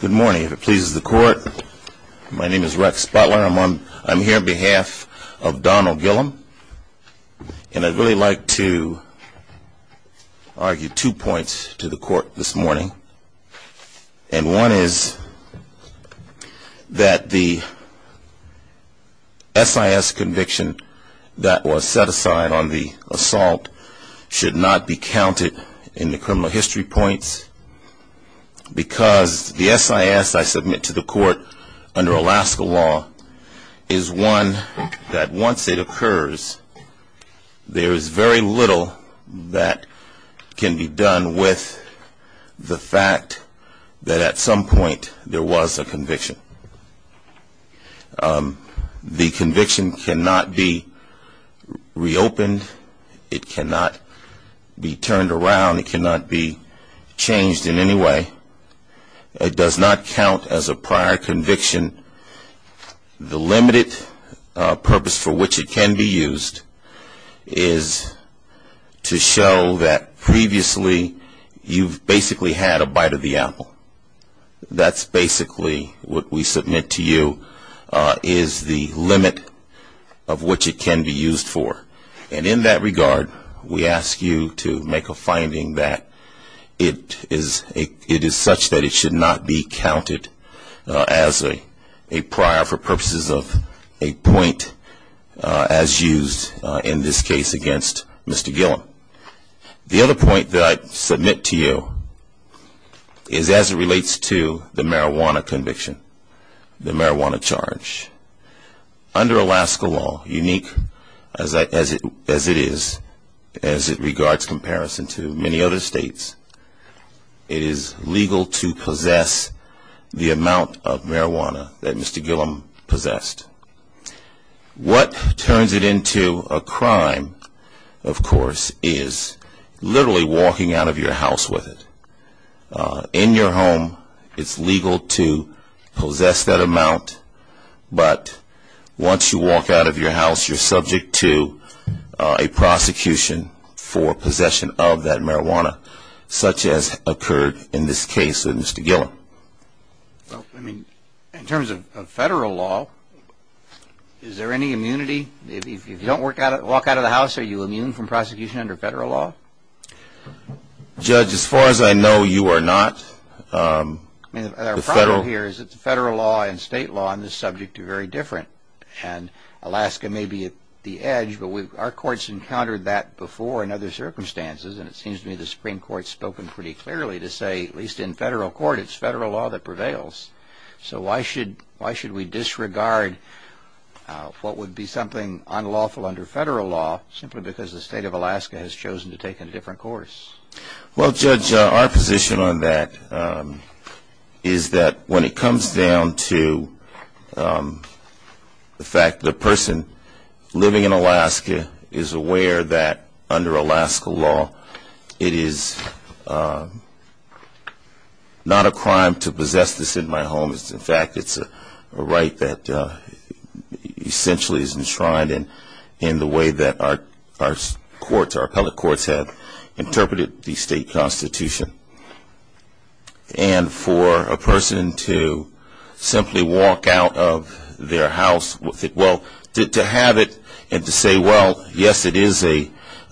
Good morning. If it pleases the court, my name is Rex Butler. I'm here on behalf of Donald Gillion. And I'd really like to argue two points to the court this morning. And one is that the SIS conviction that was set aside on the assault should not be counted in the criminal history points. Because the SIS I submit to the court under Alaska law is one that once it occurs, there is very little that can be done with the facts. The fact that at some point there was a conviction. The conviction cannot be reopened. It cannot be turned around. It cannot be changed in any way. It does not count as a prior conviction. The limited purpose for which it can be used is to show that previously you've basically had a bite of the apple. That's basically what we submit to you is the limit of which it can be used for. And in that regard, we ask you to make a finding that it is such that it should not be counted as a prior for purposes of a point as used in this case against Mr. Gillion. Now, the other point that I submit to you is as it relates to the marijuana conviction, the marijuana charge. Under Alaska law, unique as it is, as it regards comparison to many other states, it is legal to possess the amount of marijuana that Mr. Gillion possessed. What turns it into a crime, of course, is literally walking out of your house with it. In your home, it's legal to possess that amount, but once you walk out of your house, you're subject to a prosecution for possession of that marijuana, such as occurred in this case with Mr. Gillion. Well, I mean, in terms of federal law, is there any immunity? If you don't walk out of the house, are you immune from prosecution under federal law? Judge, as far as I know, you are not. I mean, our problem here is that the federal law and state law on this subject are very different, and Alaska may be at the edge, but our courts encountered that before in other circumstances, and it seems to me the Supreme Court has spoken pretty clearly to say, at least in federal court, it's federal law that prevails. So why should we disregard what would be something unlawful under federal law simply because the state of Alaska has chosen to take a different course? Well, Judge, our position on that is that when it comes down to the fact the person living in Alaska is aware that under Alaska law, it is not a crime to possess this in my home. In fact, it's a right that essentially is enshrined in the way that our courts, our appellate courts, have interpreted the state constitution. And for a person to simply walk out of their house with it, well, to have it and to say, well, yes, it is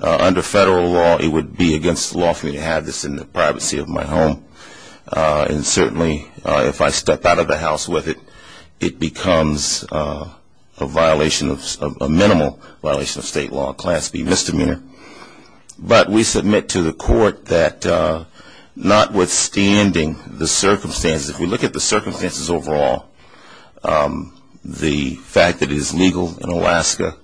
under federal law, it would be against the law for me to have this in the privacy of my home. And certainly, if I step out of the house with it, it becomes a violation of, a minimal violation of state law, a class B misdemeanor. But we submit to the court that notwithstanding the circumstances, if we look at the circumstances overall, the fact that it is legal in Alaska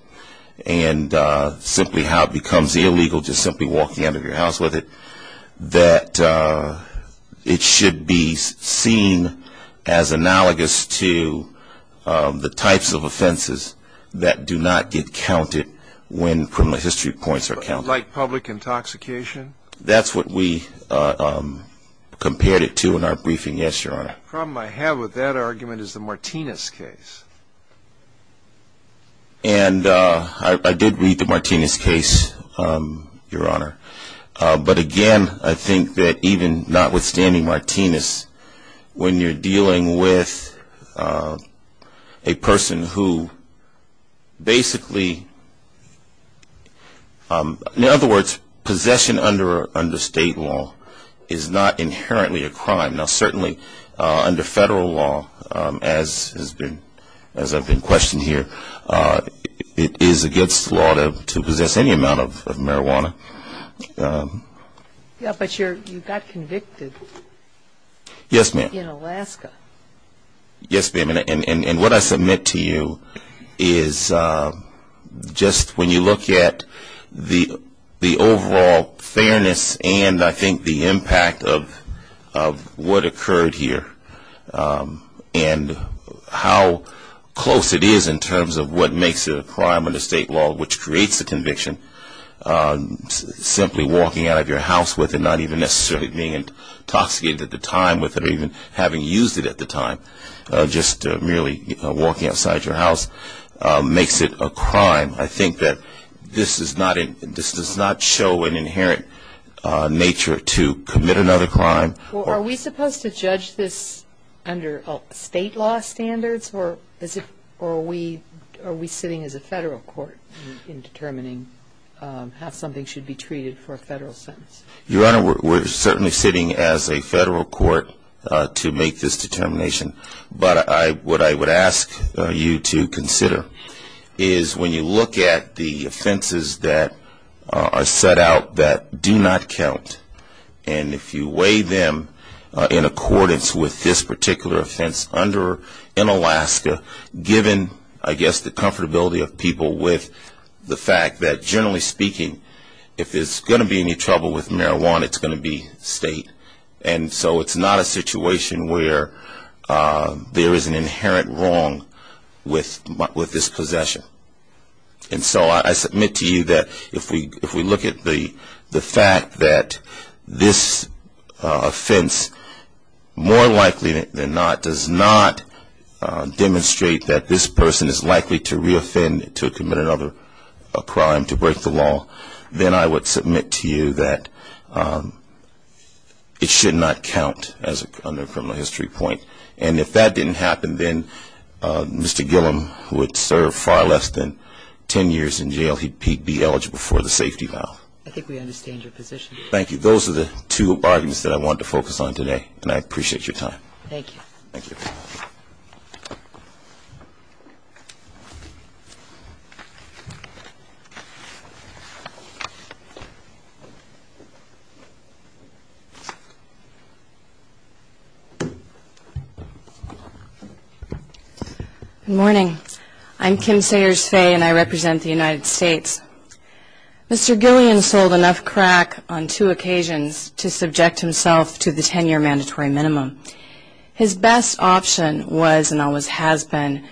and simply how it becomes illegal just simply walking out of your house with it, that it should be seen as analogous to the types of offenses that do not get counted when criminal history points are counted. Like public intoxication? That's what we compared it to in our briefing, yes, Your Honor. The problem I have with that argument is the Martinez case. And I did read the Martinez case, Your Honor. But again, I think that even notwithstanding Martinez, when you're dealing with a person who basically, in other words, possession under state law is not inherently a crime. Now certainly, under federal law, as I've been questioned here, it is against the law to possess any amount of marijuana. Yeah, but you got convicted. Yes, ma'am. In Alaska. Yes, ma'am. And what I submit to you is just when you look at the overall fairness and I think the impact of what occurred here and how close it is in terms of what makes it a crime under state law, which creates a conviction, simply walking out of your house with it, not even necessarily being intoxicated at the time with it or even having used it at the time, just merely walking outside your house makes it a crime. I think that this does not show an inherent nature to commit another crime. Well, are we supposed to judge this under state law standards or are we sitting as a federal court in determining how something should be treated for a federal sentence? Your Honor, we're certainly sitting as a federal court to make this determination. But what I would ask you to consider is when you look at the offenses that are set out that do not count, and if you weigh them in accordance with this particular offense in Alaska, given I guess the comfortability of people with the fact that generally speaking, if there's going to be any trouble with marijuana, it's going to be state. And so it's not a situation where there is an inherent wrong with this possession. And so I submit to you that if we look at the fact that this offense more likely than not does not demonstrate that this person is likely to reoffend, to commit another crime, to break the law, then I would submit to you that it should not count under a criminal history point. And if that didn't happen, then Mr. Gillum would serve far less than ten years in jail. He'd be eligible for the safety valve. I think we understand your position. Thank you. Those are the two arguments that I wanted to focus on today, and I appreciate your time. Thank you. Thank you. Thank you. Good morning. I'm Kim Sayers Faye, and I represent the United States. Mr. Gillum sold enough crack on two occasions to subject himself to the ten-year mandatory minimum. His best option was and always has been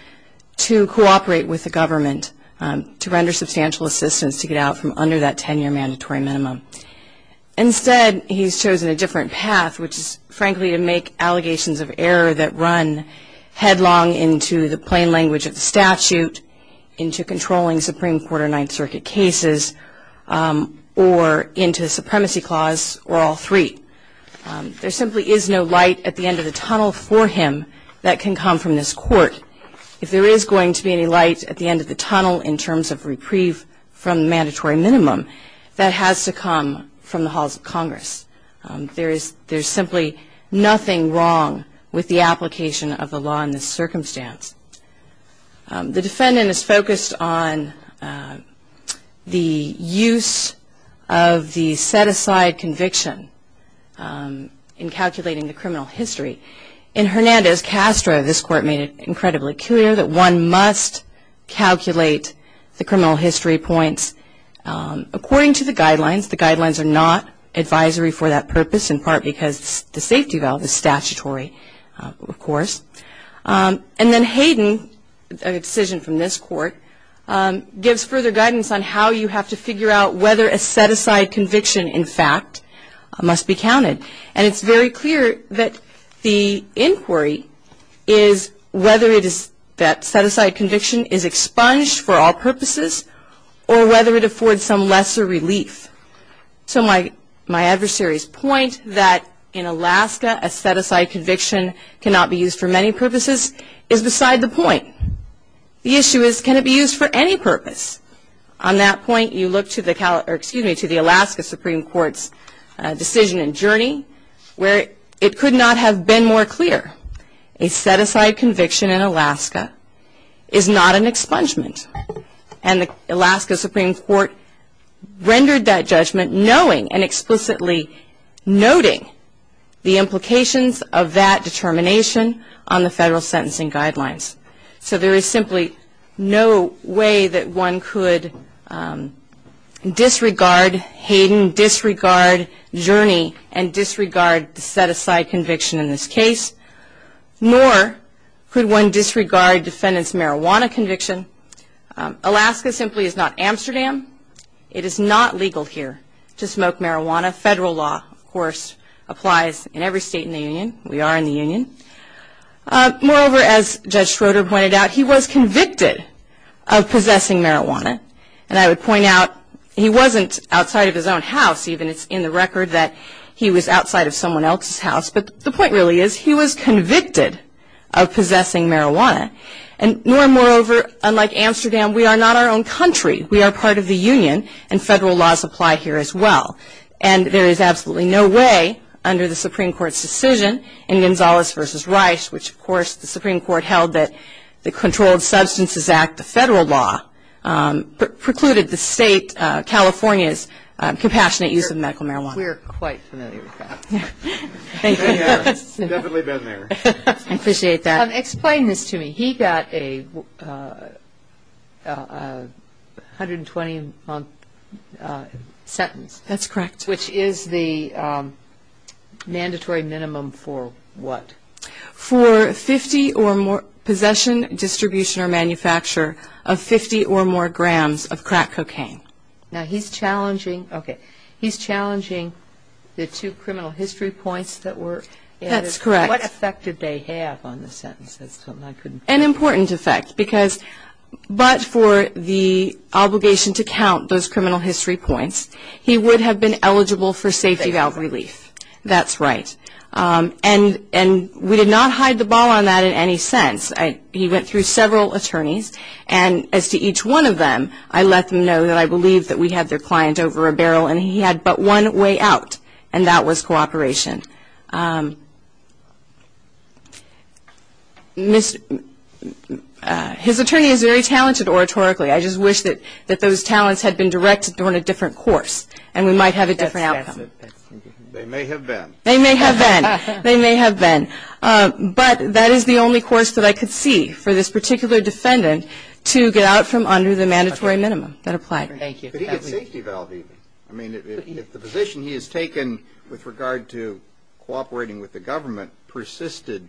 to cooperate with the government to render substantial assistance to get out from under that ten-year mandatory minimum. Instead, he's chosen a different path, which is, frankly, to make allegations of error that run headlong into the plain language of the statute, into controlling Supreme Court or Ninth Circuit cases, or into the Supremacy Clause, or all three. There simply is no light at the end of the tunnel for him that can come from this court. If there is going to be any light at the end of the tunnel in terms of reprieve from the mandatory minimum, that has to come from the halls of Congress. There is simply nothing wrong with the application of the law in this circumstance. The defendant is focused on the use of the set-aside conviction in calculating the criminal history. In Hernandez-Castro, this court made it incredibly clear that one must calculate the criminal history points according to the guidelines. The guidelines are not advisory for that purpose, in part because the safety valve is statutory, of course. And then Hayden, a decision from this court, gives further guidance on how you have to figure out whether a set-aside conviction, in fact, must be counted. And it's very clear that the inquiry is whether that set-aside conviction is expunged for all purposes or whether it affords some lesser relief. So my adversary's point that in Alaska a set-aside conviction cannot be used for many purposes is beside the point. The issue is, can it be used for any purpose? On that point, you look to the Alaska Supreme Court's decision in Jurnee, where it could not have been more clear. A set-aside conviction in Alaska is not an expungement. And the Alaska Supreme Court rendered that judgment knowing and explicitly noting the implications of that determination on the federal sentencing guidelines. So there is simply no way that one could disregard Hayden, disregard Jurnee, and disregard the set-aside conviction in this case. Nor could one disregard defendant's marijuana conviction. Alaska simply is not Amsterdam. It is not legal here to smoke marijuana. Federal law, of course, applies in every state in the Union. We are in the Union. Moreover, as Judge Schroeder pointed out, he was convicted of possessing marijuana. And I would point out, he wasn't outside of his own house. Even it's in the record that he was outside of someone else's house. But the point really is he was convicted of possessing marijuana. And more and moreover, unlike Amsterdam, we are not our own country. We are part of the Union, and federal laws apply here as well. And there is absolutely no way under the Supreme Court's decision in Gonzales v. Rice, which, of course, the Supreme Court held that the Controlled Substances Act, the federal law, precluded the state California's compassionate use of medical marijuana. We're quite familiar with that. Definitely been there. I appreciate that. Explain this to me. He got a 120-month sentence. That's correct. Which is the mandatory minimum for what? For 50 or more possession, distribution, or manufacture of 50 or more grams of crack cocaine. Now, he's challenging, okay, he's challenging the two criminal history points that were added. That's correct. What effect did they have on the sentences? An important effect, because but for the obligation to count those criminal history points, he would have been eligible for safety valve relief. That's right. And we did not hide the ball on that in any sense. He went through several attorneys. And as to each one of them, I let them know that I believed that we had their client over a barrel, and he had but one way out, and that was cooperation. His attorney is very talented oratorically. I just wish that those talents had been directed on a different course, and we might have a different outcome. They may have been. They may have been. They may have been. But that is the only course that I could see for this particular defendant to get out from under the mandatory minimum that applied. Could he get safety valve even? I mean, if the position he has taken with regard to cooperating with the government persisted,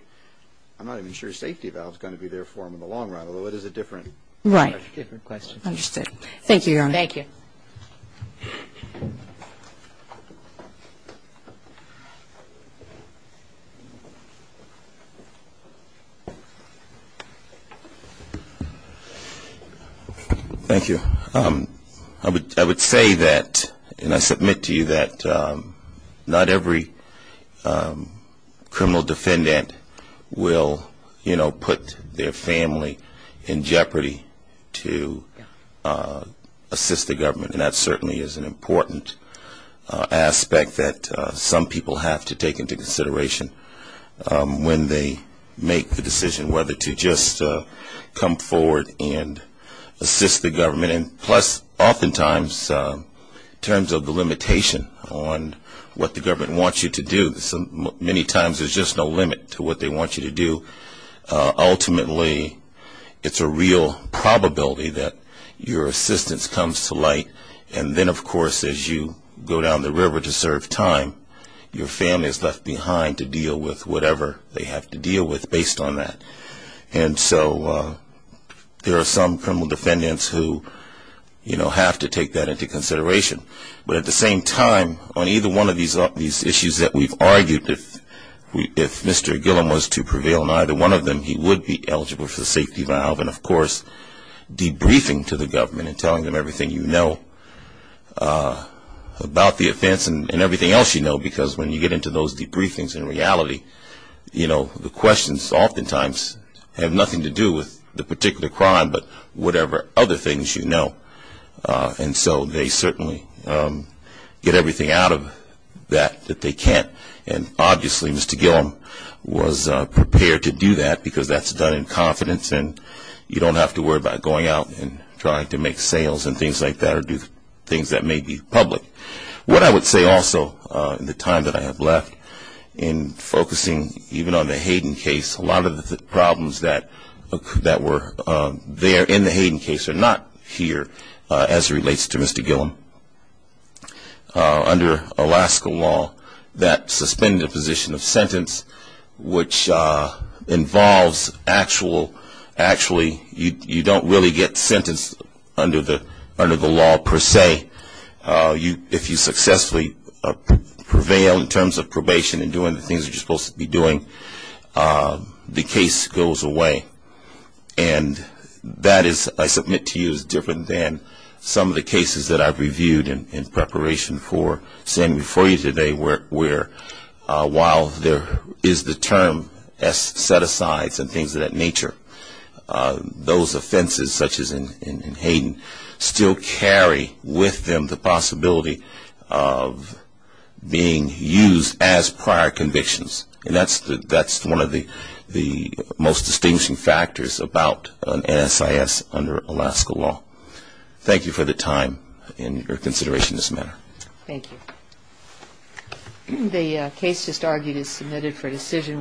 I'm not even sure safety valve is going to be there for him in the long run, although it is a different question. Right. Understood. Thank you, Your Honor. Thank you. Thank you. I would say that, and I submit to you that not every criminal defendant will, you know, put their family in jeopardy to assist the government, and that certainly is an important aspect that some people have to take into consideration. When they make the decision whether to just come forward and assist the government, and plus oftentimes in terms of the limitation on what the government wants you to do, many times there's just no limit to what they want you to do. Ultimately, it's a real probability that your assistance comes to light, and then, of course, as you go down the river to serve time, your family is left behind to deal with whatever they have to deal with based on that. And so there are some criminal defendants who, you know, have to take that into consideration. But at the same time, on either one of these issues that we've argued, if Mr. Gillum was to prevail on either one of them, he would be eligible for the safety valve, and of course debriefing to the government and telling them everything you know about the offense and everything else you know because when you get into those debriefings in reality, you know, the questions oftentimes have nothing to do with the particular crime but whatever other things you know. And so they certainly get everything out of that that they can't. And obviously Mr. Gillum was prepared to do that because that's done in confidence and you don't have to worry about going out and trying to make sales and things like that or do things that may be public. What I would say also in the time that I have left in focusing even on the Hayden case, a lot of the problems that were there in the Hayden case are not here as it relates to Mr. Gillum. Under Alaska law, that suspended position of sentence, which involves actual, actually you don't really get sentenced under the law per se. If you successfully prevail in terms of probation and doing the things you're supposed to be doing, the case goes away. And that is, I submit to you, is different than some of the cases that I've reviewed in preparation for standing before you today where while there is the term set-asides and things of that nature, those offenses such as in Hayden still carry with them the possibility of being used as prior convictions. And that's one of the most distinguishing factors about an NSIS under Alaska law. Thank you for the time and your consideration in this matter. Thank you. The case just argued is submitted for decision.